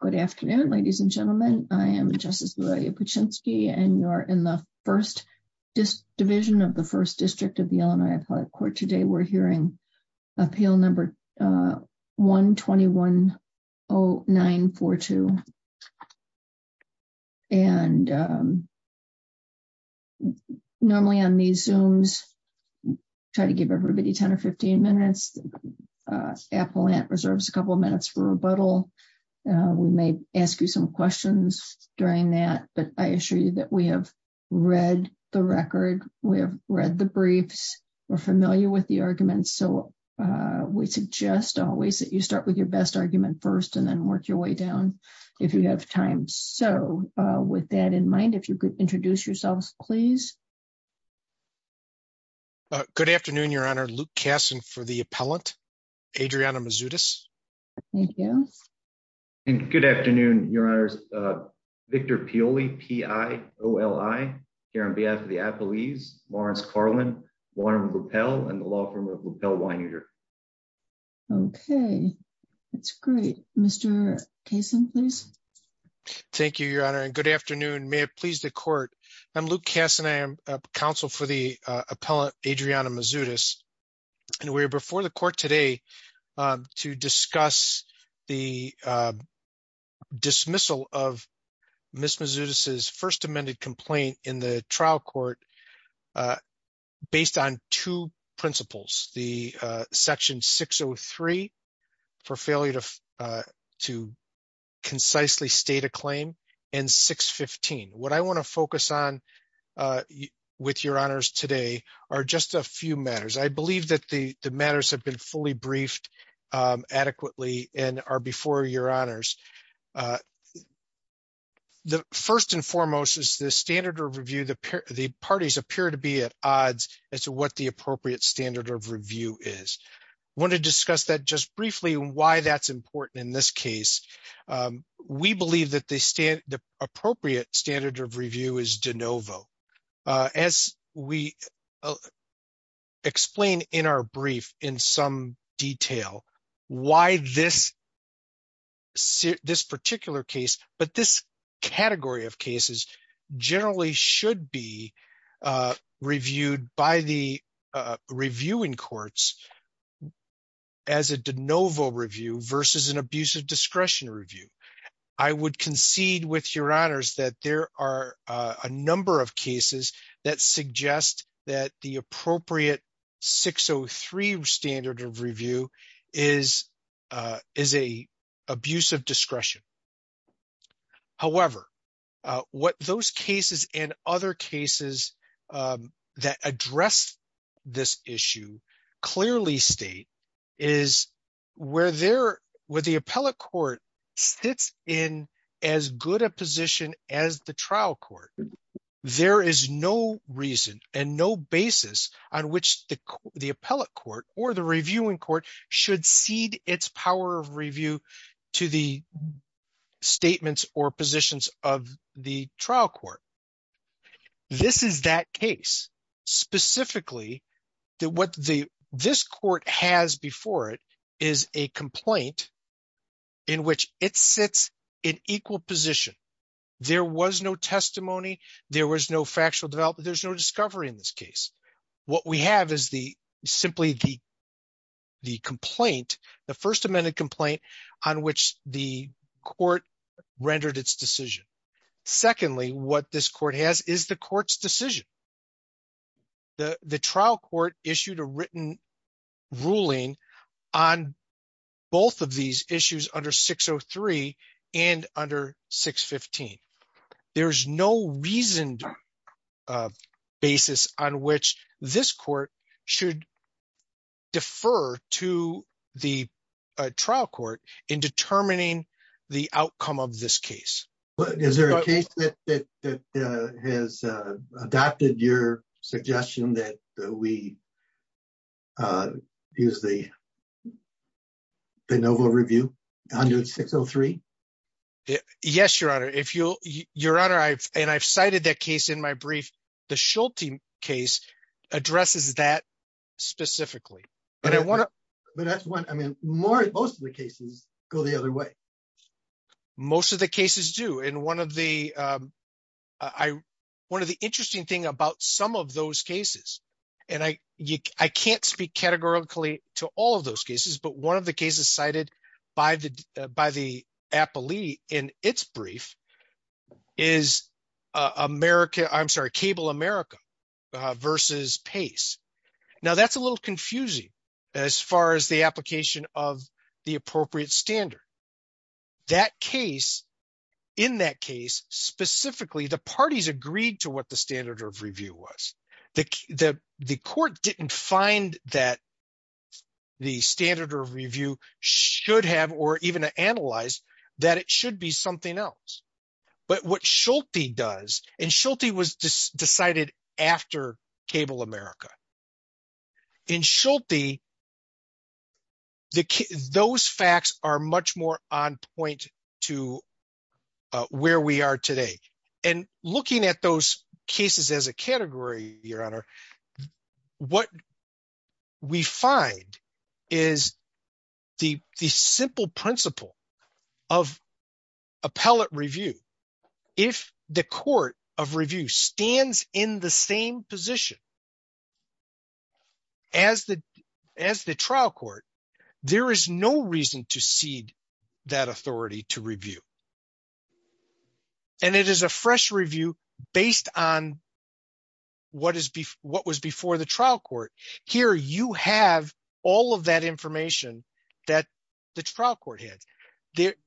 Good afternoon, ladies and gentlemen. I am Justice Lidalia Puchinsky and you're in the first division of the First District of the Illinois Appellate Court. Today we're hearing Appeal Number 1210942. And normally on these Zooms, I try to give everybody 10 or 15 minutes. The appellant reserves a couple of minutes for rebuttal. We may ask you some questions during that, but I assure you that we have read the record. We have read the briefs. We're familiar with the arguments. So we suggest always that you start with your best argument first and then work your way down if you have time. So with that in mind, if you could introduce yourselves, please. Luke Kasson Good afternoon, Your Honor. Luke Kasson for the appellant, Adriana Mazzutis. Adriana Mazzutis Thank you. Victor Pioli Good afternoon, Your Honors. Victor Pioli, P-I-O-L-I, here on behalf of the appellees, Lawrence Karlin, Warren Ruppell, and the law firm of Ruppell Wineter. Adriana Mazzutis Okay, that's great. Mr. Kasson, please. Luke Kasson Thank you, Your Honor. And good afternoon. May it please the court. I'm Luke Kasson. I am counsel for the appellant, Adriana Mazzutis. And we're before the court today to discuss the dismissal of Ms. Mazzutis' first amended complaint in the trial court based on two principles, the Section 603 for failure to concisely state a claim and 615. What I want to focus on with Your Honors today are just a few matters. I believe that the matters have been fully briefed adequately and are before Your Honors. The first and foremost is the standard of review. The parties appear to be at odds as to what the appropriate standard of review is. I want to discuss that just briefly and why that's important in this case. We believe that the appropriate standard of review is de novo. As we explain in our brief in some detail, why this particular case, but this category of cases generally should be I would concede with Your Honors that there are a number of cases that suggest that the appropriate 603 standard of review is an abuse of discretion. However, what those cases and other cases that address this issue clearly state is where the appellate court sits in as good a position as the trial court. There is no reason and no basis on which the appellate court or the reviewing court should cede its power of review to the statements or positions of the trial court. This is that case. Specifically, what this court has before it is a complaint in which it sits in equal position. There was no testimony. There was no factual development. There's no discovery in this case. What we have is simply the complaint, the First Amendment complaint on which the court rendered its decision. Secondly, what this court has is the court's decision. The trial court issued a written ruling on both of these issues under 603 and under 615. There's no reason or basis on which this court should defer to the trial court in determining the outcome of this case. Is there a case that has adopted your suggestion that we use the Benovo Review under 603? Yes, Your Honor. I've cited that case in my brief. The Schulte case addresses that specifically. Most of the cases go the other way. Most of the cases do. One of the interesting things about some of those cases, and I can't speak categorically to all of those cases, but one of the cases cited by the appellee in its brief is Cable America v. Pace. That's a little confusing as far as the application of the appropriate standard. In that case, specifically, the parties agreed to what the standard of review was. The court didn't find that the standard of review should have or even analyze that it should be something else. But what Schulte does, and Schulte was decided after Cable America. In Schulte, those facts are much more on point to where we are today. Looking at those cases as a category, Your Honor, what we find is the simple principle of appellate review. If the court of review stands in the same position as the trial court, there is no reason to cede that authority to review. It is a fresh review based on what was before the trial court. Here, you have all of that information that the trial court had.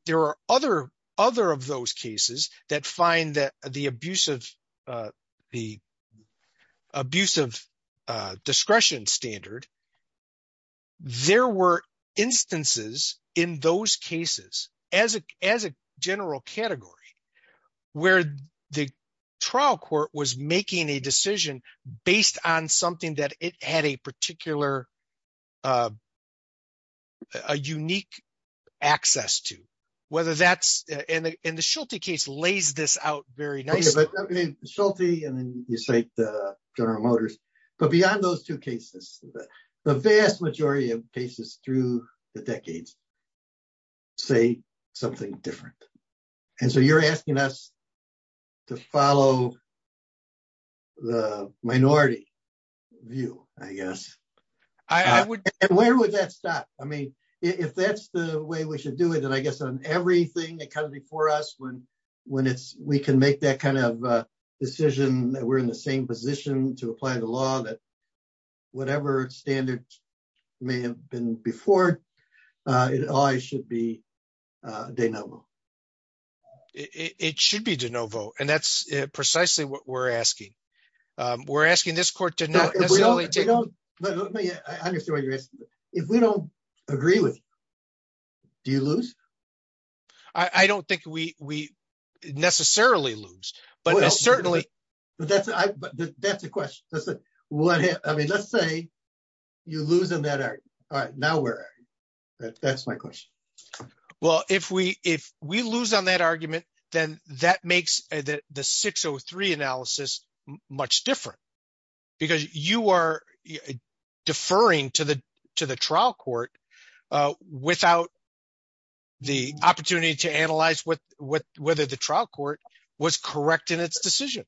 There are other of those cases that find the abusive discretion standard. There were instances in those cases as a general category where the trial court was making a decision based on something that it had a particular or unique access to. The Schulte case lays this out very nicely. But beyond those two cases, the vast majority of cases through the decades say something different. You are asking us to follow the minority view, I guess. I would. And where would that stop? If that's the way we should do it, then I guess on everything that comes before us, when we can make that kind of decision that we're in the same position to apply the law that whatever standard may have been before, it always should be de novo. It should be de novo. And that's precisely what we're asking. We're asking this court to not let me I understand what you're asking. If we don't agree with you, do you lose? I don't think we necessarily lose. But certainly, that's a question. Let's say you lose on that argument. Now where are you? That's my question. Well, if we lose on that argument, then that makes the 603 analysis much different. Because you are deferring to the trial court without the opportunity to analyze whether the trial court was correct in its decision.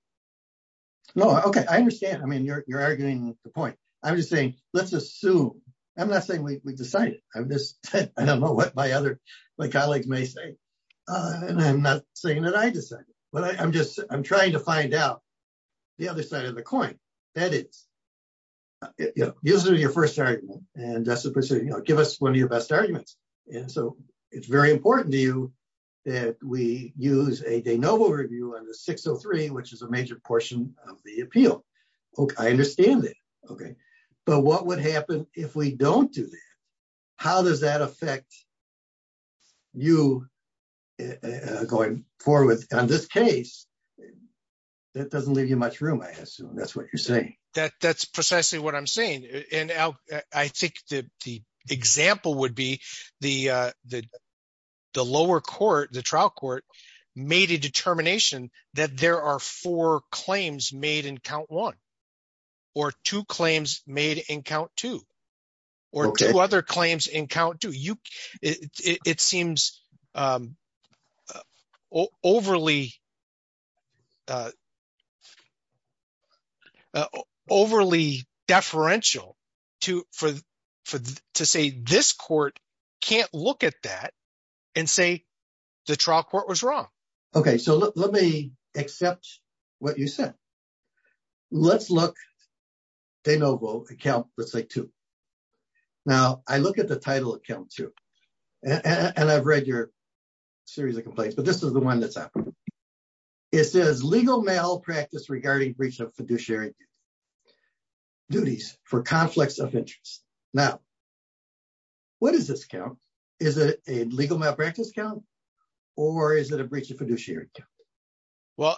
No, okay. I understand. I mean, you're arguing the point. I'm just saying, let's assume. I'm not saying we decided. I don't know what my colleagues may say. And I'm not saying that I I'm just I'm trying to find out the other side of the coin. That is, using your first argument, and that's the procedure, you know, give us one of your best arguments. And so it's very important to you that we use a de novo review on the 603, which is a major portion of the appeal. Okay, I understand it. Okay. But what would happen if we don't do how does that affect you going forward on this case? That doesn't leave you much room. I assume that's what you're saying. That that's precisely what I'm saying. And I think the example would be the lower court, the trial court made a determination that there are four claims made in count one, or two claims made in count two, or two other claims in count two, it seems overly deferential to for, to say, this court can't look at that and say, the trial court was wrong. Okay, so let me accept what you said. Let's look de novo account, let's say two. Now, I look at the title of count two. And I've read your series of complaints, but this is the one that's happened. It says legal malpractice regarding breach of fiduciary duties for conflicts of interest. Now, what is this count? Is it a legal malpractice count? Or is it a breach of fiduciary? Well,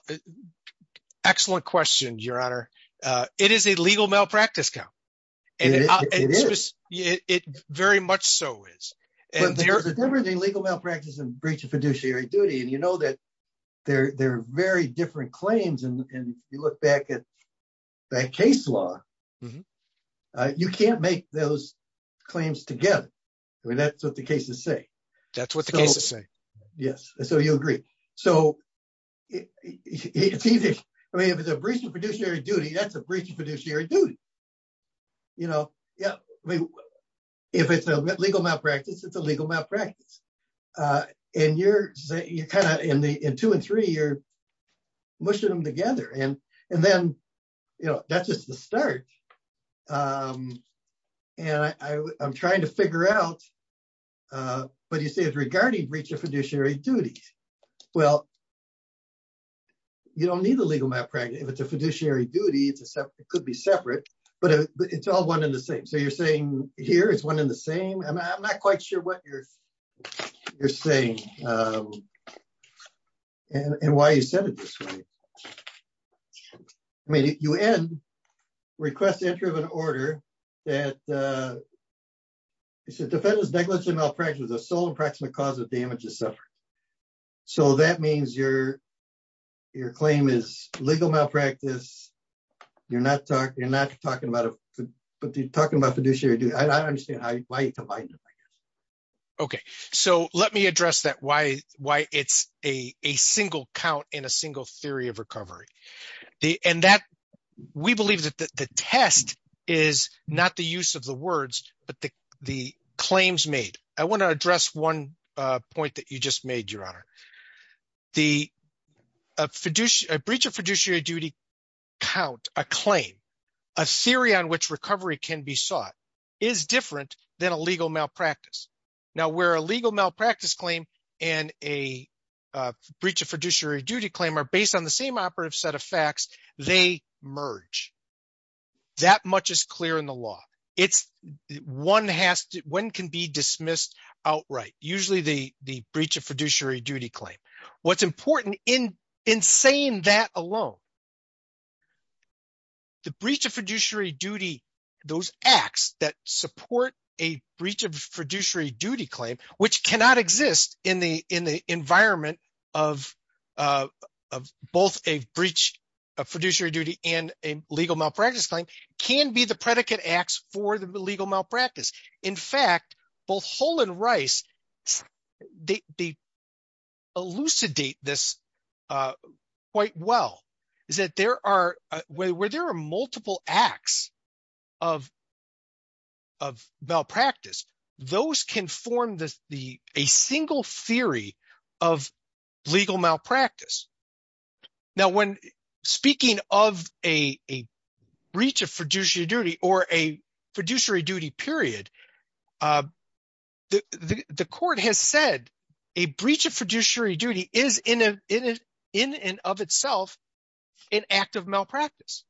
excellent question, Your Honor. It is a legal malpractice count. And it very much so is everything legal malpractice and breach of fiduciary duty. And you know that they're they're very different claims. And you look back at that case law. You can't make those claims together. I mean, that's what the cases say. That's what the cases say. Yes. So you agree. So I mean, if it's a breach of fiduciary duty, that's a breach of fiduciary duty. You know, yeah. I mean, if it's a legal malpractice, it's a legal malpractice. And you're, you're kind of in the in two and three, you're mushing them together. And, and then, you know, that's just the start. And I'm trying to figure out what you say is regarding breach of fiduciary duties. Well, you don't need a legal malpractice. If it's a fiduciary duty, it's a separate, it could be separate. But it's all one in the same. So you're saying here is one in the same. And I'm not quite sure what you're saying. And why you said it this way. I mean, you end request entry of an order that it's a defendant's negligent malpractice was a sole and proximate cause of damages suffered. So that means your, your claim is legal malpractice. You're not talking, you're not talking about, but you're talking about fiduciary duty. I don't understand. Okay, so let me address that why, why it's a single count in a single theory of recovery. And that we believe that the test is not the use of the words, but the claims made, I want to address one point that you just made your honor. The fiduciary breach of fiduciary duty count a claim, a theory on which recovery can be sought is different than a legal malpractice. Now where a legal malpractice claim and a breach of fiduciary duty claim are based on the same operative set of facts, they merge that much is clear in the law. It's one has to, when can be dismissed outright, usually the, the breach of fiduciary duty claim. What's important in, in saying that alone, the breach of fiduciary duty, those acts that support a breach of fiduciary duty claim, which cannot exist in the, in the environment of both a breach of fiduciary duty and a legal malpractice claim can be the predicate acts for the legal malpractice. In fact, both Hull and Rice, they elucidate this quite well, is that there are, where there are multiple acts of, of malpractice, those can form the, the, a single theory of legal malpractice. Now, when speaking of a, a breach of fiduciary duty or a fiduciary duty period, the court has said a breach of fiduciary duty is in a, in a, in and of itself an act of malpractice.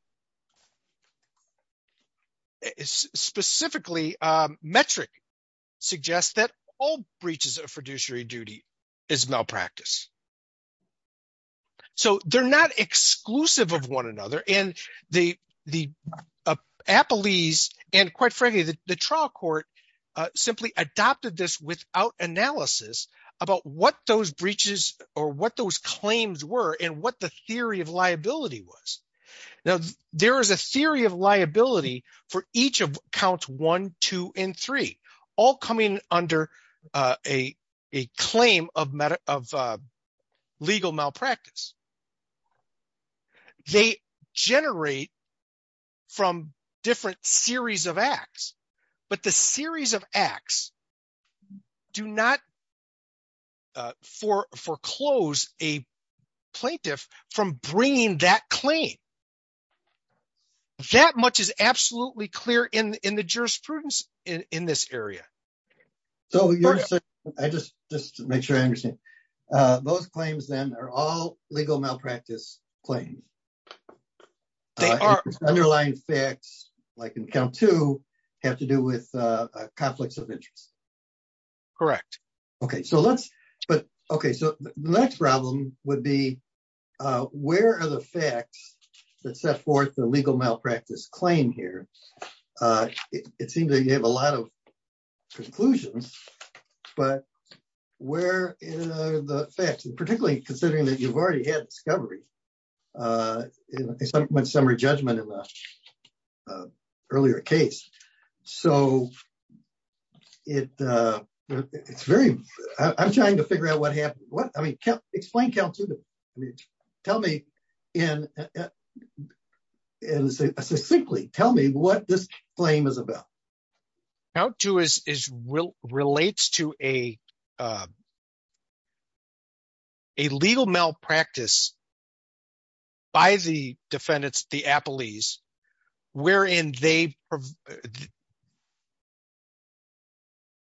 It's specifically metric suggests that all breaches of fiduciary duty is malpractice. So they're not exclusive of one another. And the, the Appalese and quite frankly, the trial court simply adopted this without analysis about what those breaches or what those claims were and what the theory of liability was. Now, there is a theory of liability for each of count one, two, and three, all coming under a, a claim of meta of legal malpractice. They generate from different series of acts, but the series of acts do not for foreclose a plaintiff from bringing that claim. That much is absolutely clear in, in the jurisprudence in this area. So I just, just to make sure I understand, those claims then are all legal malpractice claims. They are underlying facts, like in count to have to do with conflicts of interest. Correct. Okay. So let's, but, okay. So the next problem would be, where are the facts that set forth the legal malpractice claim here? It seems that you have a lot of conclusions, but where the facts and particularly considering that you've already had discovery in my summary judgment in the earlier case. So it, it's very, I'm trying to figure out what happened. What I mean, explain count to tell me in, and say, simply tell me what this claim is about. Count to is, is real, relates to a, a legal malpractice by the defendants, the appellees, wherein they,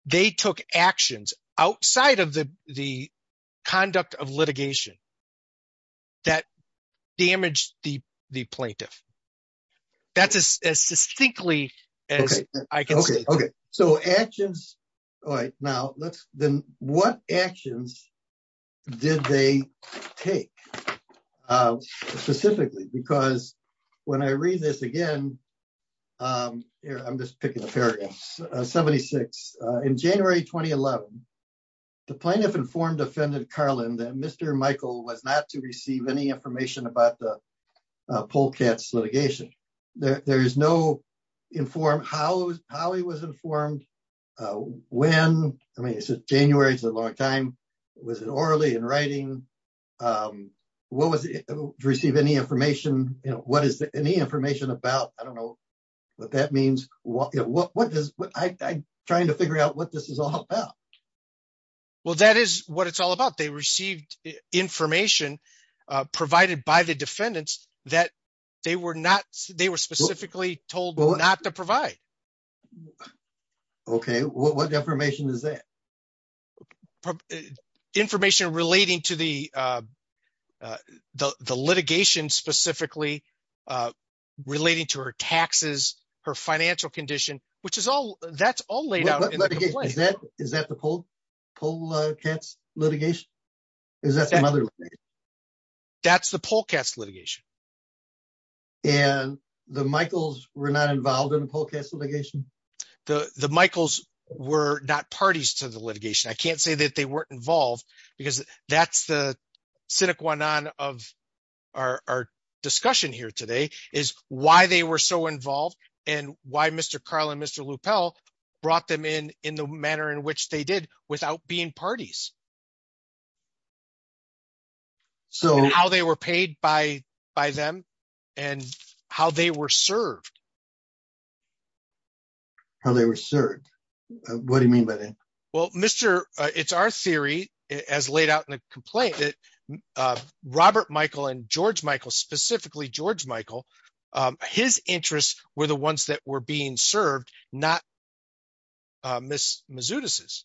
they took actions outside of the, the conduct of litigation that damaged the, the plaintiff. That's as succinctly as I can say. Okay. So actions. All right. Now let's, then what actions did they take specifically? Because when I read this again, I'm just picking a paragraph 76 in January, 2011, the plaintiff informed offended Carlin that Mr. Michael was not to receive any information about the poll cats litigation. There is no informed how, how he was informed when, I mean, it's a January, it's a long time. Was it orally in writing? What was it to receive any information? You know, what is any information about? I don't know what that means. What, what, what does I trying to figure out what this is all about? Well, that is what it's all about. They received information provided by the defendants that they were not, they were specifically told not to provide. Okay. What information is that information relating to the the litigation specifically relating to her taxes, her financial condition, which is all that's all laid out. Is that the poll cats litigation? Is that the mother? That's the poll cats litigation. And the Michaels were not involved in the poll cats litigation. The Michaels were not parties to the litigation. I can't say that they weren't involved because that's the cynic one on of our, our discussion here today is why they were so involved and why Mr. Carl and Mr. LuPel brought them in, in the manner in which they did without being parties. So how they were paid by, by them and how they were served. How they were served. What do you mean by that? Well, Mr. It's our theory as laid out in the play that Robert Michael and George Michael, specifically George Michael, his interests were the ones that were being served. Not Ms. Mizzou disses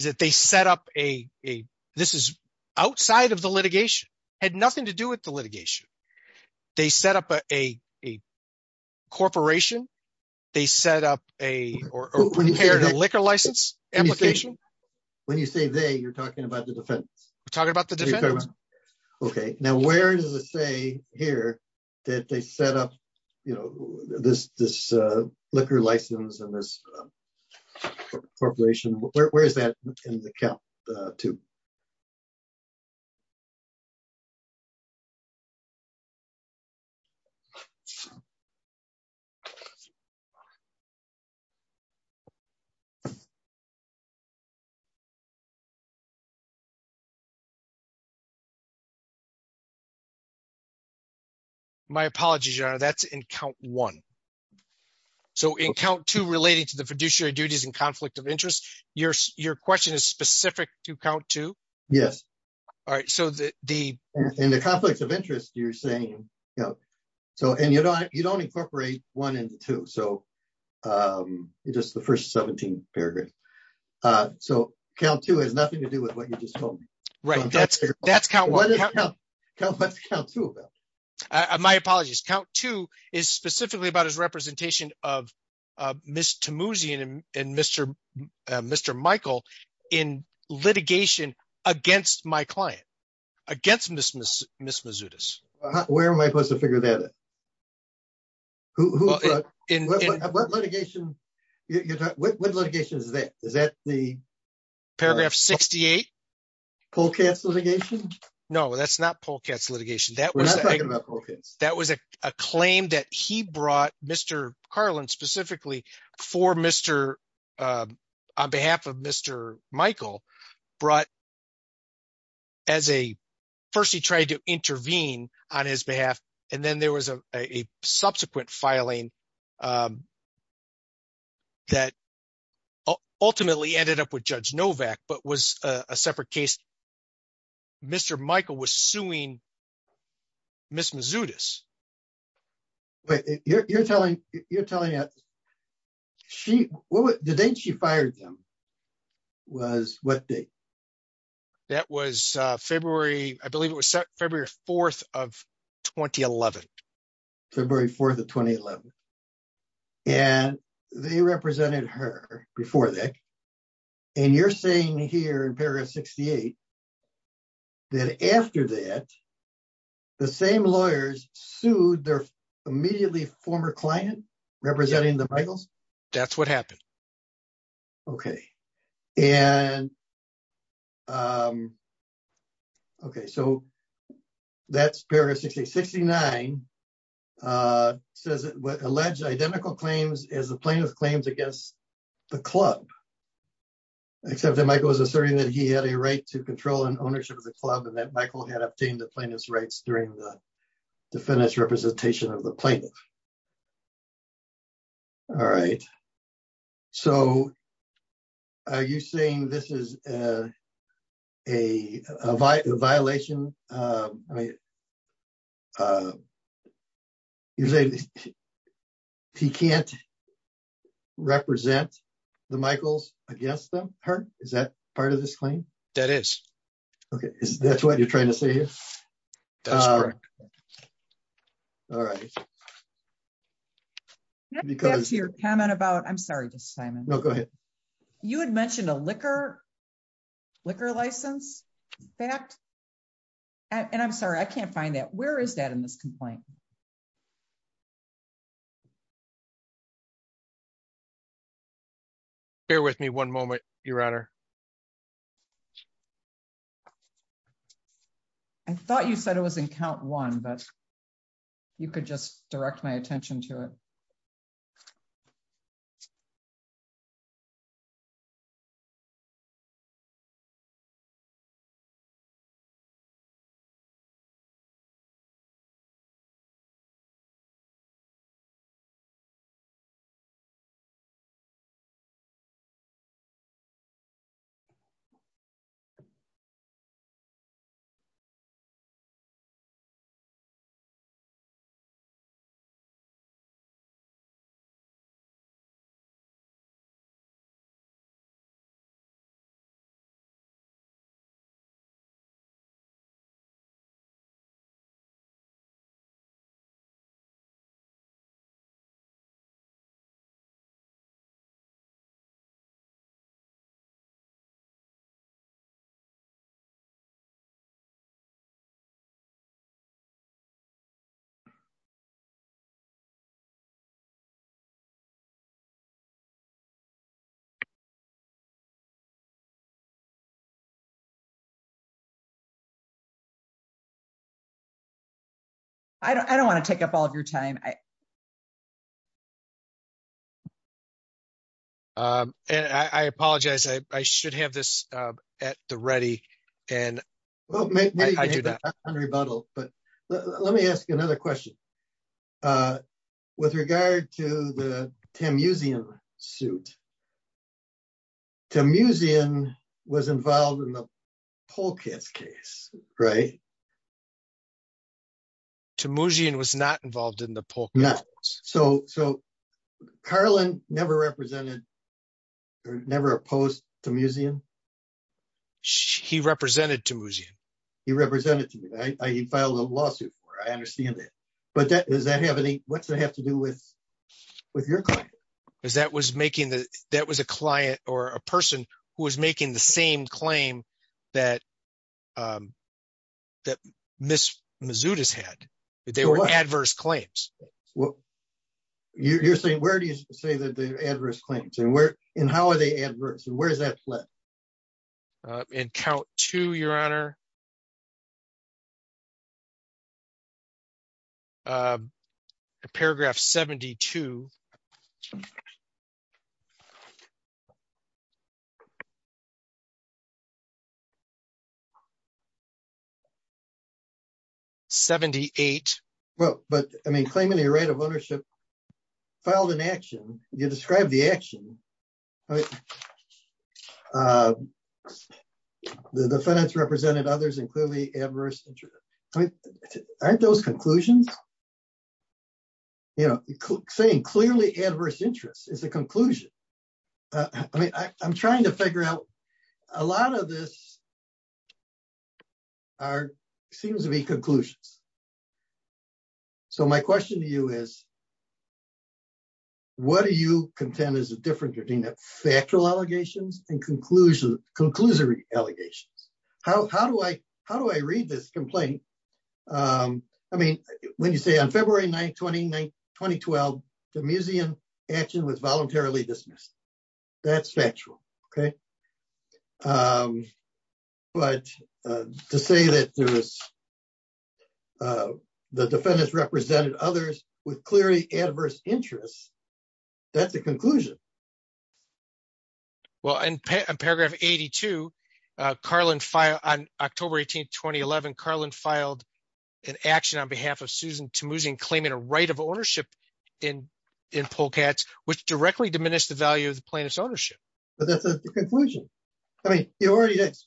is that they set up a, a, this is outside of the litigation had nothing to do with the litigation. They set up a, a, a corporation. They set up a, or a liquor license application. When you say they, you're talking about the defense. We're talking about the defense. Okay. Now, where does it say here that they set up, you know, this, this liquor license and this corporation, where, where is that in the cap? My apologies. That's in count one. So in count two relating to the fiduciary duties and conflict of interest, your, your question is specific to count two. Yes. All right. So the, the, in the conflicts of interest, you're saying, you know, so, and you don't, you don't incorporate one into two. So just the first 17 paragraphs. So count two has nothing to do with what you just told me, right? That's, that's count one. My apologies. Count two is specifically about his representation of Ms. Tammuzian and Mr. Mr. Michael in litigation against my client, against Ms. Ms. Ms. Mizzou dis where am I supposed to figure that out? In what litigation, what litigation is that? Is that the paragraph 68? Polkats litigation? No, that's not Polkats litigation. That was, that was a claim that he brought Mr. Carlin specifically for Mr. on behalf of Mr. Michael brought him as a first, he tried to intervene on his behalf. And then there was a, a subsequent filing that ultimately ended up with judge Novak, but was a separate case. Mr. Michael was suing Ms. Mizzou dis. But you're telling, you're telling that she, the date she fired them was what day? That was February, I believe it was February 4th of 2011. February 4th of 2011. And they represented her before that. And you're saying here in paragraph 68, that after that, the same lawyers sued their immediately former client representing the Michaels? That's what happened. Okay. And okay, so that's paragraph 66, 69 says alleged identical claims as the plaintiff claims against the club, except that Michael was asserting that he had a right to control and ownership of the club and that Michael had obtained the plaintiff's rights during the defendant's representation of the plaintiff. All right. So are you saying this is a violation? He can't represent the Michaels against them? Is that part of this claim? That is. Okay. That's what you're trying to say here. All right. Because your comment about I'm sorry, just Simon. No, go ahead. You had mentioned a liquor, liquor license fact. And I'm sorry, I can't find that. Where is that at? I thought you said it was in count one, but you could just direct my attention to it. I don't want to take up all of your time. I apologize. I should have this at the ready. And well, maybe I do that on rebuttal. But let me ask you another question. With regard to the Tammuzian suit, Tammuzian was involved in the Polkett's case, right? Tammuzian was not involved in the Polkett's case. So Carlin never represented or never opposed Tammuzian? He represented Tammuzian. He represented Tammuzian. He filed a lawsuit for it. I understand that. But does that have any what's that have to do with your client? Because that was making the that was a client or a person who was making the same claim that Miss Mazzuto's had that they were adverse claims. You're saying where do you say that the adverse claims and where and how are they adverse? And where's that? And count to your honor. Paragraph 72. 78. Well, but I mean, claiming the right of ownership filed an action, you describe the action. The defendants represented others and clearly adverse interest. Aren't those conclusions? You know, saying clearly adverse interest is a conclusion. I mean, I'm trying to figure out a lot of this. Are seems to be conclusions. So my question to you is. What do you contend is the difference between the factual allegations and conclusion allegations? How do I how do I read this complaint? I mean, when you say on February 9th, 2012, Tammuzian action was voluntarily dismissed. That's factual. Okay. But to say that there was the defendants represented others with clearly adverse interest. That's a conclusion. Well, in paragraph 82, Carlin file on October 18th, 2011, Carlin filed an action on behalf of Susan Tammuzian claiming a right of ownership in in Polkatz, which directly diminished the value of the plaintiff's ownership. But that's the conclusion. I mean, you already mentioned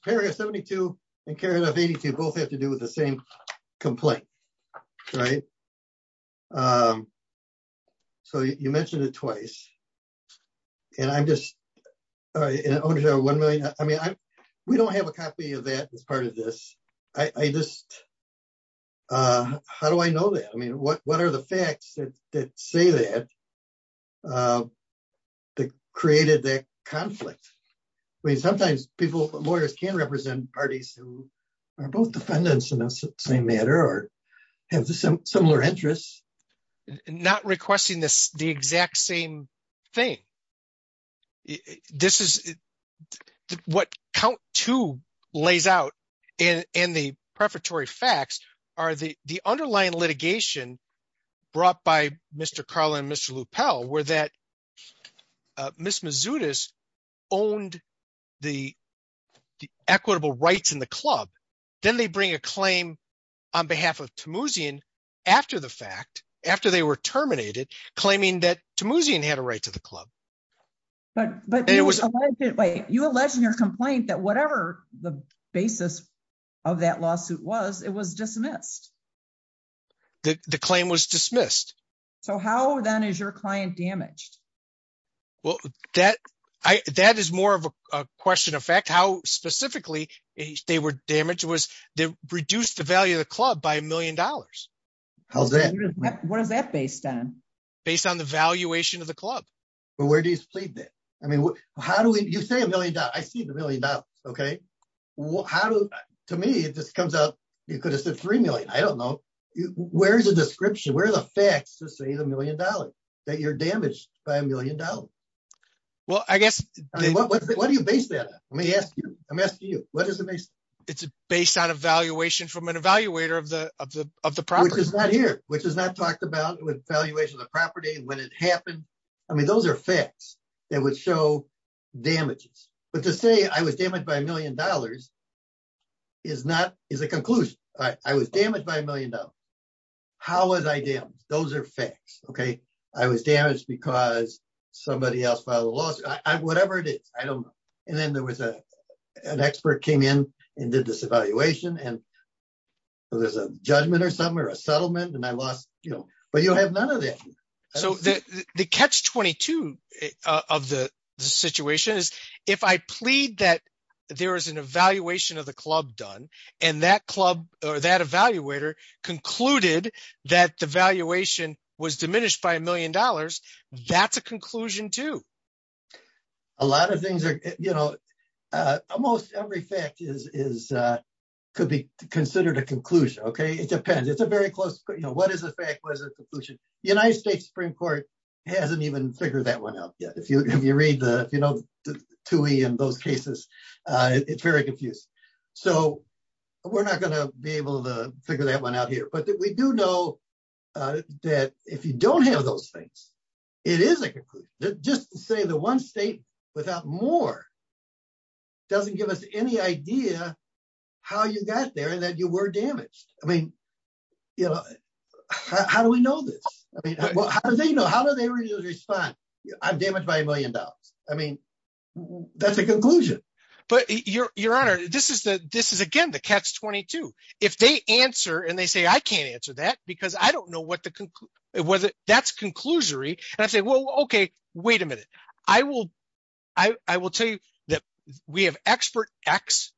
it twice. And I'm just an owner of 1 million. I mean, we don't have a copy of that as part of this. I just how do I know that? I mean, what what are the facts that say that that created that conflict? I mean, sometimes people lawyers can represent parties who are both defendants in the same manner or have similar interests. Not requesting this, the exact same thing. This is what count to lays out in the prefatory facts are the the underlying litigation brought by Mr. Carlin, Mr. Lupell were that Miss Mazzutis owned the equitable rights in the club. Then they bring a claim on behalf of after they were terminated, claiming that Tammuzian had a right to the club. But but it was you alleged in your complaint that whatever the basis of that lawsuit was, it was dismissed. The claim was dismissed. So how then is your client damaged? Well, that I that is more of a question of fact, how specifically they were damaged was they reduced the value of the club by a million dollars. How's that? What is that based on based on the valuation of the club? But where do you sleep? I mean, how do you say a million dollars? I see the million dollars. Okay. How do to me it just comes up? You could have said 3 million. I don't know. Where's the description? Where are the facts to say the million dollars that you're damaged by a million dollars? Well, I guess what do you base that? Let me ask you. What is the base? It's based on a valuation from an evaluator of the of the of the problem is not here, which is not talked about with valuation of the property when it happened. I mean, those are facts that would show damages. But to say I was damaged by a million dollars is not is a conclusion. I was damaged by a million dollars. How was I damaged? Those are facts. Okay. I was damaged because somebody else filed a lawsuit. Whatever it is, I don't know. And then an expert came in and did this evaluation and there's a judgment or something or a settlement and I lost, you know, but you have none of that. So the catch 22 of the situation is if I plead that there is an evaluation of the club done and that club or that evaluator concluded that the valuation was diminished by a million dollars, that's a conclusion too. A lot of things are, you know, almost every fact is is could be considered a conclusion. Okay. It depends. It's a very close. You know, what is the fact? What is the conclusion? The United States Supreme Court hasn't even figured that one out yet. If you if you read the, you know, two in those cases, it's very confused. So we're not going to be able to figure that one out here. But we do know that if you don't have those things, it is a conclusion. Just to say the one state without more doesn't give us any idea how you got there and that you were damaged. I mean, you know, how do we know this? I mean, how do they know how do they respond? I'm damaged by a million dollars. I mean, that's a conclusion. But your your honor, this is the this is again, catch 22. If they answer and they say, I can't answer that, because I don't know what the whether that's conclusory. And I say, well, okay, wait a minute. I will. I will tell you that we have expert x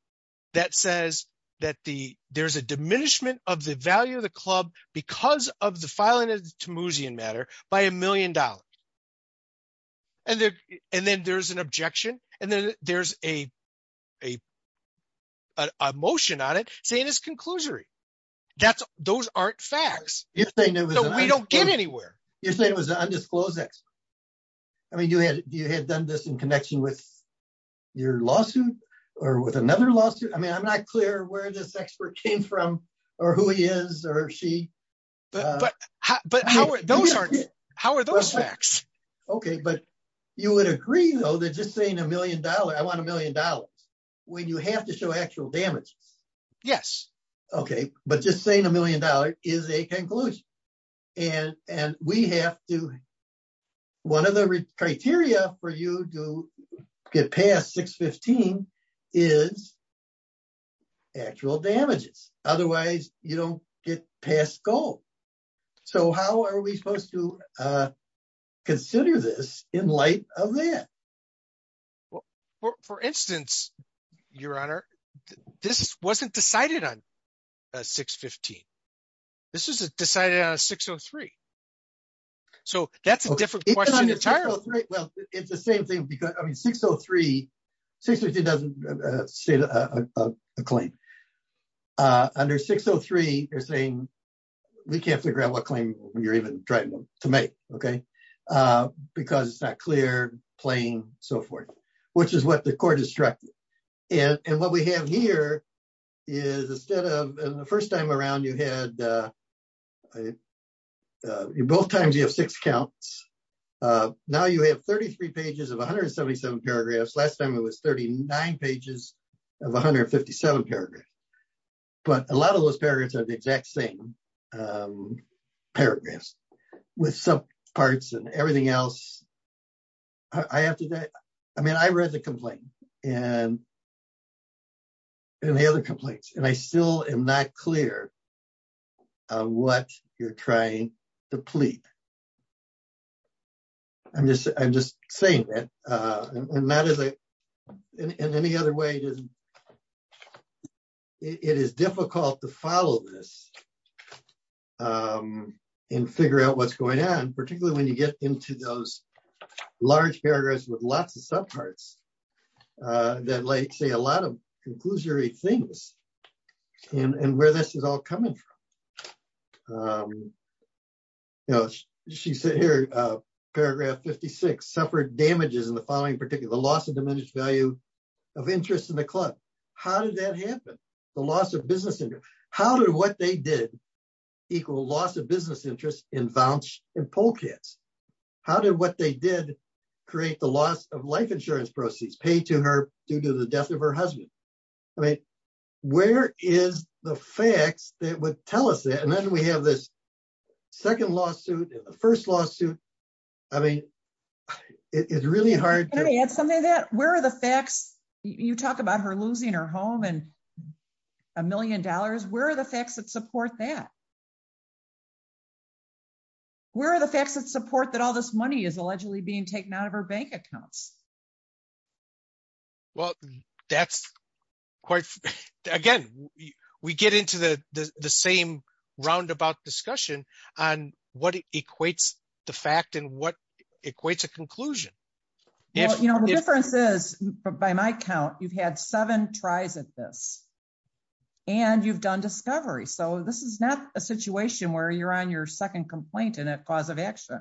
that says that the there's a diminishment of the value of the club because of the filing of the Tamoosian matter by a million dollars. And then there's an objection. And then there's a a motion on it saying this conclusory. That's those aren't facts. We don't get anywhere. You're saying it was undisclosed x. I mean, you had you had done this in connection with your lawsuit, or with another lawsuit. I mean, I'm not clear where this expert came from, or who he is, or she. But how are those? How are those facts? Okay, but you would agree, though, that just saying a million dollars, I want a million dollars, when you have to show actual damage? Yes. Okay. But just saying a million dollars is a conclusion. And and we have to one of the criteria for you to get past 615 is actual damages. Otherwise, you don't get past goal. So how are we supposed to consider this in light of that? Well, for instance, Your Honor, this wasn't decided on 615. This is decided on 603. So that's a different title. Well, it's the same thing. Because I mean, 603 603 doesn't say a claim. Under 603, you're saying we can't figure out what claim you're trying to make. Okay. Because it's not clear playing, so forth, which is what the court is tracking. And what we have here is instead of the first time around, you had both times you have six counts. Now you have 33 pages of 177 paragraphs. Last time it was 39 pages of 157 paragraphs. But a lot of those paragraphs are the exact same paragraphs with some parts and everything else. I have to I mean, I read the complaint and and the other complaints and I still am not clear what you're trying to plead. I'm just I'm just saying that and not as a in any other way. It is it is difficult to follow this and figure out what's going on, particularly when you get into those large paragraphs with lots of subparts that like say a lot of conclusory things and where this is all coming from. You know, she said here, paragraph 56 suffered damages in the following particular loss of diminished value of interest in the club. How did that happen? The loss of business? How did what they did equal loss of business interest in voucher and poll kits? How did what they did create the loss of life insurance proceeds paid to her due to the death of her husband? I mean, where is the facts that would tell us that? And then we have this second lawsuit, the first lawsuit. I mean, it's really hard to add something that where are the facts? You talk about her losing her home and a million dollars. Where are the facts that support that? Where are the facts that support that all this money is allegedly being taken out of her accounts? Well, that's quite again, we get into the same roundabout discussion on what equates the fact and what equates a conclusion. If you know the difference is, by my count, you've had seven tries at this. And you've done discovery. So this is not a situation where you're on your second complaint and that cause of action.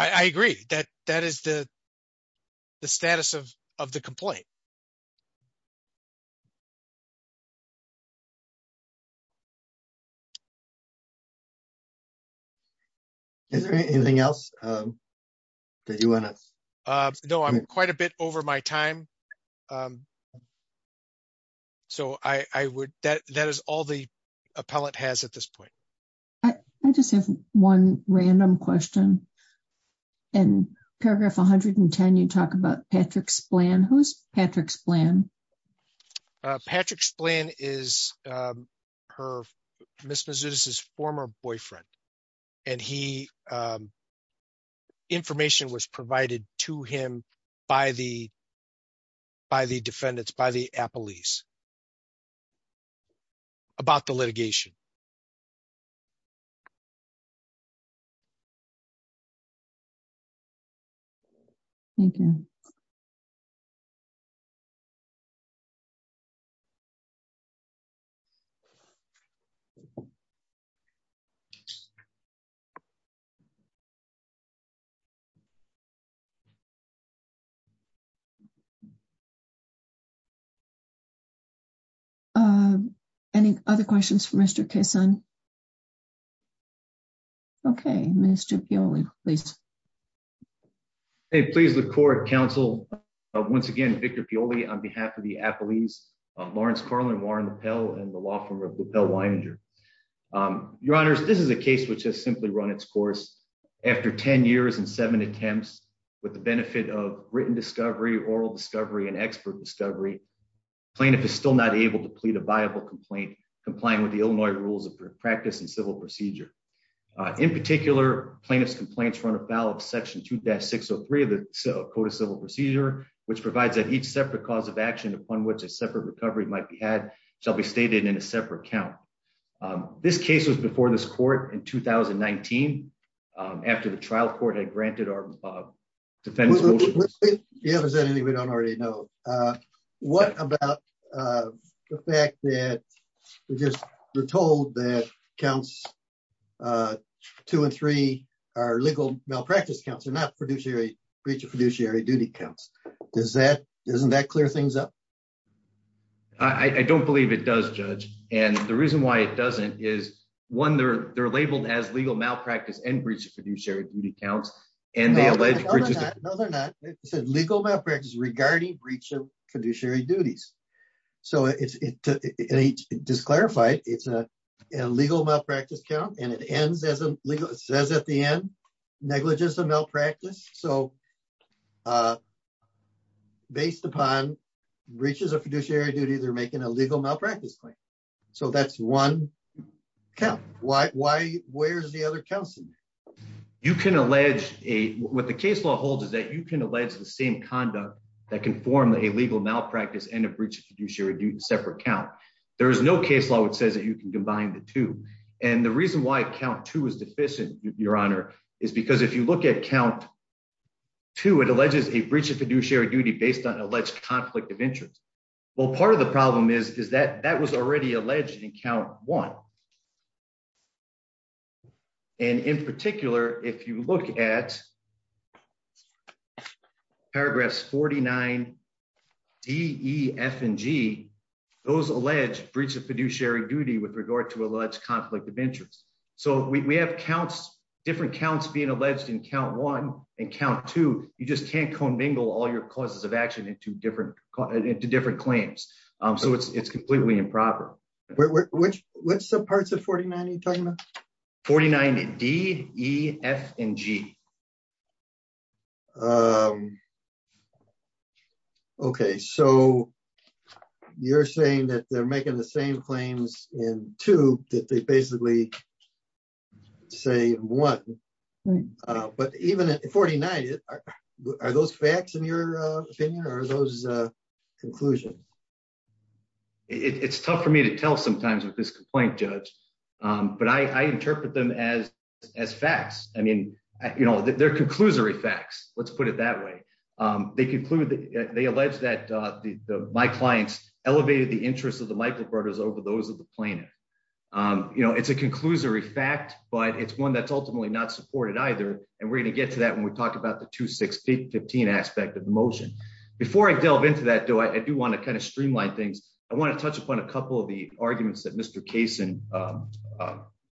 I agree that that is the status of the complaint. Is there anything else that you want to know? I'm quite a bit over my time. Okay. So that is all the appellant has at this point. I just have one random question. In paragraph 110, you talk about Patrick Splann. Who's Patrick Splann? Patrick Splann is Ms. Mazzutis' former boyfriend. And information was provided to him by the defendants, by the appellees, about the litigation. Thank you. Thank you. Any other questions for Mr. Kasson? Okay. Mr. Pioli, please. Hey, please, the court, counsel. Once again, Victor Pioli on behalf of the appellees, Lawrence Carlin, Warren LaPell, and the law firm of LaPell-Weininger. Your honors, this is a case which has simply run its course. After 10 years and seven attempts, with the benefit of written discovery, oral discovery, and expert discovery, plaintiff is still not able to plead a viable complaint, complying with the Illinois rules of practice and civil procedure. In particular, plaintiff's complaints run afoul of section 2-603 of the Code of Civil Procedure, which provides that each separate cause of action, upon which a separate recovery might be had, shall be stated in a separate count. This case was before this court in 2019, after the trial court had granted our defense motion. Is there anything we don't already know? What about the fact that we're told that counts 2 and 3 are legal malpractice counts and not breach of fiduciary duty counts? Doesn't that clear things up? I don't believe it does, Judge, and the reason why it doesn't is, one, they're labeled as legal malpractice regarding breach of fiduciary duties. It's a legal malpractice count and it says at the end, negligence of malpractice. Based upon breaches of fiduciary duties, they're making a legal malpractice claim. That's one count. Where's the other counts? You can allege, what the case law holds is that you can allege the same conduct that can form a legal malpractice and a breach of fiduciary duty in a separate count. There is no case law that says that you can combine the two, and the reason why count 2 is deficient, Your Honor, is because if you look at count 2, it alleges a breach of fiduciary duty based on an alleged conflict of interest. Well, part of the problem is that that was already in count 1. In particular, if you look at paragraphs 49, D, E, F, and G, those alleged breach of fiduciary duty with regard to alleged conflict of interest. We have different counts being alleged in count 1 and count 2. You just can't commingle all your causes of action into different claims. It's completely improper. Which subparts of 49 are you talking about? 49, D, E, F, and G. Okay, so you're saying that they're making the same claims in 2 that they basically say in 1. But even at 49, are those facts in your opinion, or are those conclusions? It's tough for me to tell sometimes with this complaint, Judge, but I interpret them as facts. I mean, they're conclusory facts. Let's put it that way. They allege that my clients elevated the interests of the Michael Brothers over those of the plaintiff. It's a conclusory fact, but it's one that's ultimately not supported either, and we're going to get to that when we talk about the 2-6-15 aspect of the motion. Before I delve into that, though, I do want to streamline things. I want to touch upon a couple of the arguments that Mr. Kaysen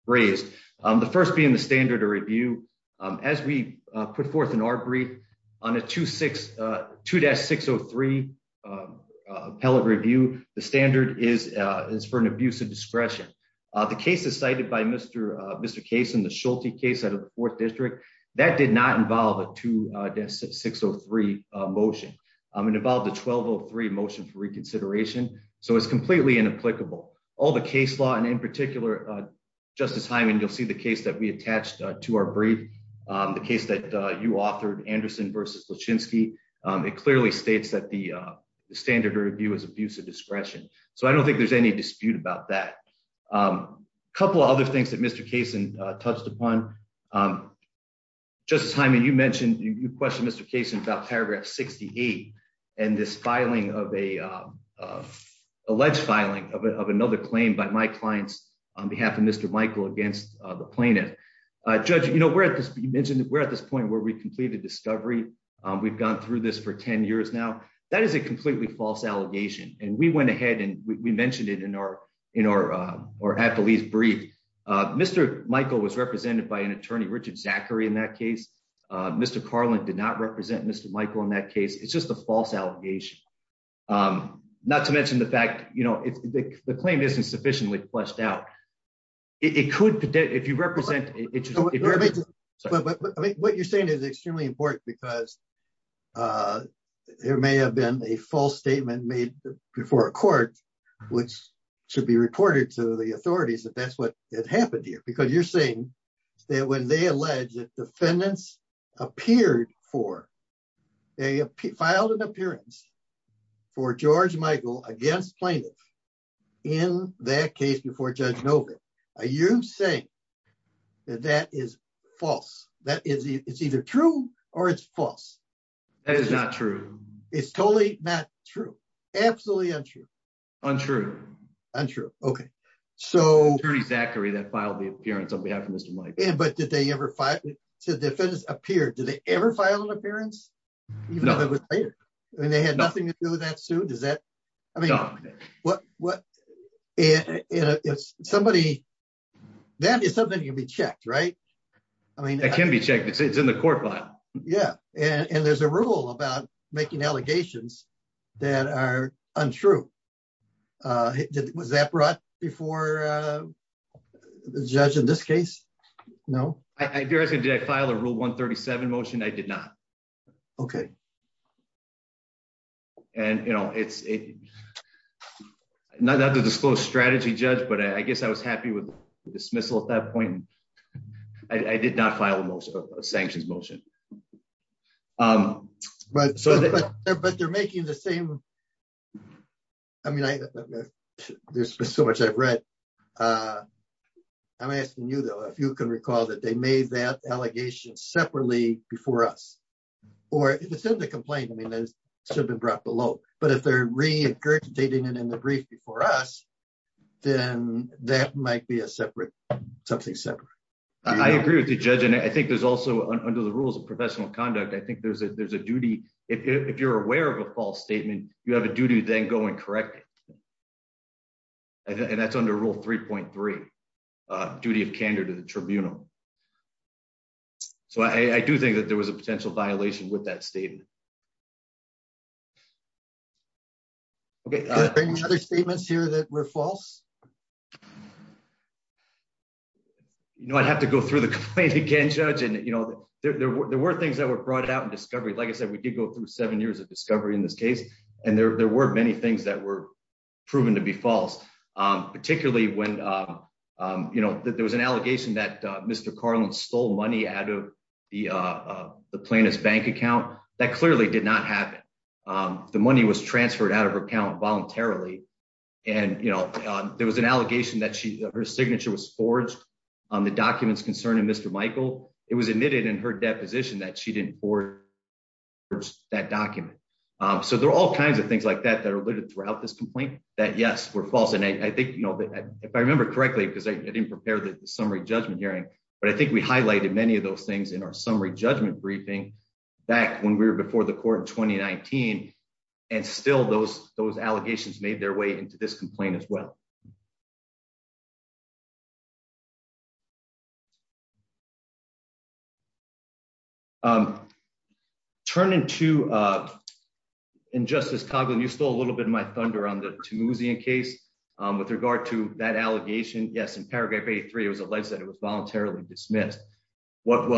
raised. The first being the standard of review. As we put forth in our brief, on a 2-603 appellate review, the standard is for an abuse of discretion. The cases cited by Mr. Kaysen, the Schulte case out of the 4th District, that did not involve a 2-603 motion. It involved a reconsideration, so it's completely inapplicable. All the case law, and in particular, Justice Hyman, you'll see the case that we attached to our brief, the case that you authored, Anderson v. Lachinsky. It clearly states that the standard of review is abuse of discretion, so I don't think there's any dispute about that. A couple of other things that Mr. Kaysen touched upon. Justice Hyman, you mentioned, you questioned Mr. Kaysen about paragraph 68 and this alleged filing of another claim by my clients on behalf of Mr. Michael against the plaintiff. Judge, you mentioned we're at this point where we completed discovery. We've gone through this for 10 years now. That is a completely false allegation, and we went ahead and we mentioned it in our appellate brief. Mr. Michael was represented by an attorney, Richard Zachary, in that case. Mr. Carlin did not represent Mr. Michael in that case. It's a false allegation, not to mention the fact that the claim isn't sufficiently fleshed out. What you're saying is extremely important because there may have been a false statement made before a court which should be reported to the authorities that that's what had happened here, because you're saying that when they alleged that defendants filed an appearance for George Michael against plaintiffs in that case before Judge Novick, are you saying that that is false? It's either true or it's false. That is not true. It's totally not true. Absolutely untrue. Untrue. Untrue, okay. So, Attorney Zachary that filed the appearance on behalf of Mr. Michael. But did they ever file, did defendants appear, did they ever file an appearance? No. And they had nothing to do with that suit? Does that, I mean, what, what, and it's somebody, that is something can be checked, right? I mean, that can be checked. It's in the court file. Yeah. And there's a rule about making allegations that are untrue. Was that brought before the judge in this case? No. I dare say, did I file a rule 137 motion? I did not. Okay. And, you know, it's not that the disclosed strategy judge, but I guess I was happy with sanctions motion. But they're making the same, I mean, there's so much I've read. I'm asking you though, if you can recall that they made that allegation separately before us, or if it's in the complaint, I mean, it should have been brought below, but if they're re-incarcerating it in the brief before us, then that might be a separate, something separate. I agree with the judge. And I think there's also under the rules of professional conduct, I think there's a, there's a duty. If you're aware of a false statement, you have a duty then go and correct it. And that's under rule 3.3, duty of candor to the tribunal. So I do think that there was a potential violation with that statement. Okay. Are there any other statements here that were false? You know, I'd have to go through the complaint again, judge. And, you know, there were things that were brought out in discovery. Like I said, we did go through seven years of discovery in this case. And there were many things that were proven to be false. Particularly when, you know, there was an allegation that Mr. Carlin stole money out of the plaintiff's bank account. That clearly did not happen. The money was transferred out of her account voluntarily. And, you know, there was an allegation that she, her signature was forged on the documents concerning Mr. Michael. It was admitted in her deposition that she didn't forge that document. So there are all kinds of things like that that are alluded throughout this complaint that yes, were false. And I think, you know, if I remember correctly, because I didn't prepare the summary judgment hearing, but I think we highlighted many of those things in our summary judgment briefing back when we were before the court in 2019. And still those, those allegations made their way to this complaint as well. Turning to Injustice Carlin, you stole a little bit of my thunder on the Tammuzian case. With regard to that allegation, yes, in paragraph 83, it was alleged that it was voluntarily dismissed. What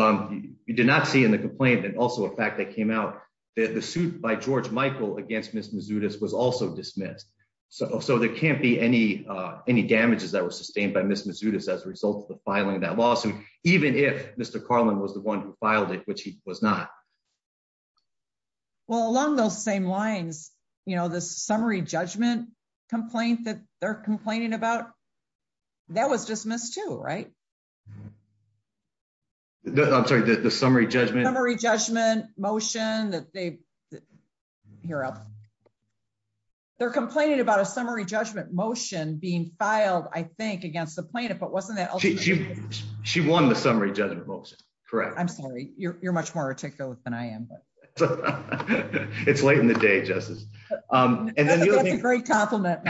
you did not see in the complaint, and also a fact that came out, the suit by George Michael against Ms. Mazzutis was also dismissed. So there can't be any, any damages that were sustained by Ms. Mazzutis as a result of the filing of that lawsuit, even if Mr. Carlin was the one who filed it, which he was not. Well, along those same lines, you know, the summary judgment complaint that they're complaining about, that was dismissed too, right? I'm sorry, the summary judgment? Summary judgment motion that they, here, they're complaining about a summary judgment motion being filed, I think, against the plaintiff, but wasn't that? She won the summary judgment motion. Correct. I'm sorry. You're, you're much more articulate than I am. It's late in the day, Justice. And then you have a great compliment.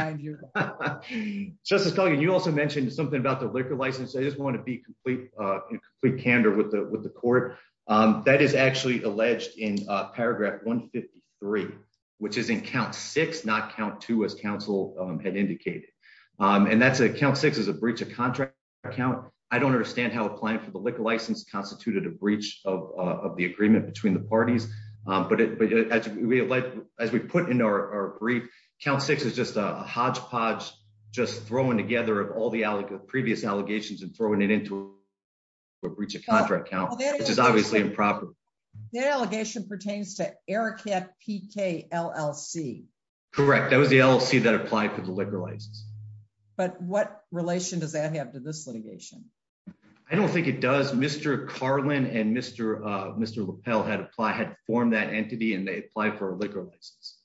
Justice Carlin, you also mentioned something about the liquor license. I just want to be in complete candor with the court. That is actually alleged in paragraph 153, which is in count six, not count two, as counsel had indicated. And that's a count six is a breach of contract account. I don't understand how applying for the liquor license constituted a breach of the agreement between the parties. But as we put in our brief, count six is just a hodgepodge just throwing together of all the allegations, previous allegations and throwing it into a breach of contract account, which is obviously improper. That allegation pertains to Arachat PK LLC. Correct. That was the LLC that applied for the liquor license. But what relation does that have to this litigation? I don't think it does. Mr. Carlin and Mr. LaPell had applied, had formed that entity, and they applied for a liquor license.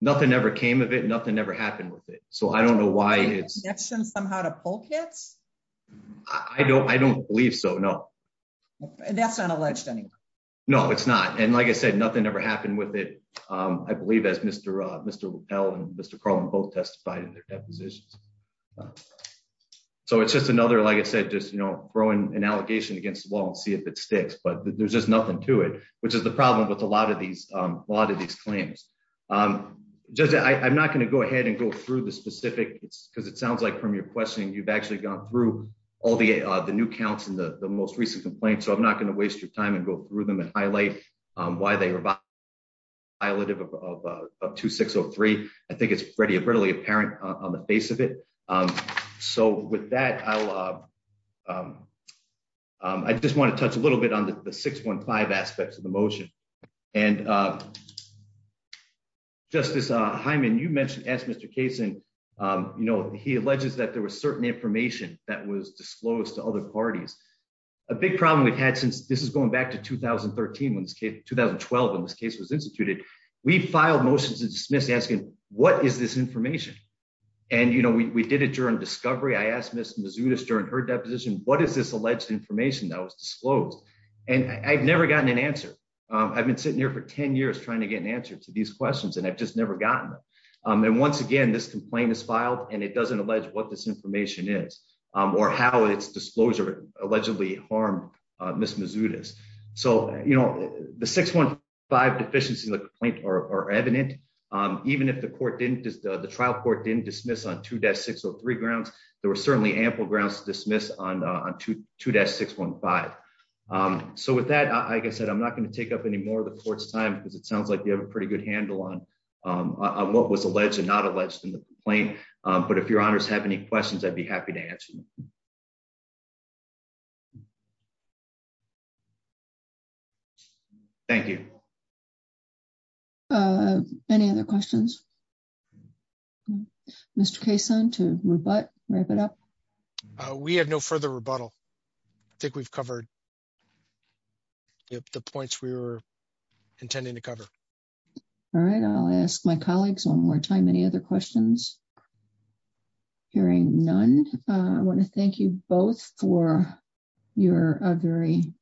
Nothing ever came of it. Nothing ever happened with it. So I don't know why it's... Is there a condition somehow to pull kits? I don't believe so, no. That's not alleged anymore? No, it's not. And like I said, nothing ever happened with it. I believe as Mr. LaPell and Mr. Carlin both testified in their depositions. So it's just another, like I said, just throwing an allegation against the wall and see if it sticks, but there's just nothing to it, which is the problem with a lot of these claims. Judge, I'm not going to go ahead and go through the specific, because it sounds like from your questioning, you've actually gone through all the new counts and the most recent complaints. So I'm not going to waste your time and go through them and highlight why they were violated of 2603. I think it's readily apparent on the face of it. So with that, I just want to touch a little bit on the 615 aspects of the motion. And Justice Hyman, you mentioned, asked Mr. Kaysen, he alleges that there was certain information that was disclosed to other parties. A big problem we've had since this is going back to 2013, when this case, 2012, when this case was instituted, we filed motions to dismiss asking, what is this information? And we did it during discovery. I asked Ms. Mazzutas during her deposition, what is this alleged information that was disclosed? And I've never gotten an answer. I've been sitting here for 10 years trying to get an answer to these questions, and I've just never gotten them. And once again, this complaint is filed, and it doesn't allege what this information is or how its disclosure allegedly harmed Ms. Mazzutas. So the 615 deficiency in the complaint are evident. Even if the trial court didn't dismiss on 2603 grounds, there were certainly ample grounds to dismiss on 2-615. So with that, like I said, I'm not going to take up any more of the court's time, because it sounds like you have a pretty good handle on what was alleged and not alleged in the complaint. But if your honors have any questions, I'd be happy to answer them. Thank you. Any other questions? Mr. Kaysen, to rebut, wrap it up? We have no further rebuttal. I think we've covered the points we were intending to cover. All right. I'll ask my colleagues one more time, any other questions? Hearing none, I want to thank you both for your very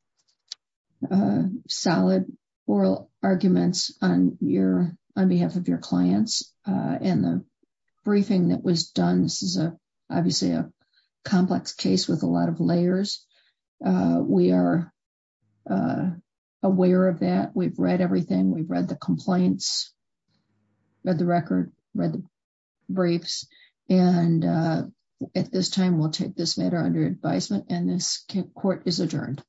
solid oral arguments on behalf of your clients and the briefing that was done. This is obviously a complex case with a lot of layers. We are aware of that. We've read everything. We've read the complaints, read the record, read the briefs. And at this time, we'll take this matter under advisement. And this court is adjourned.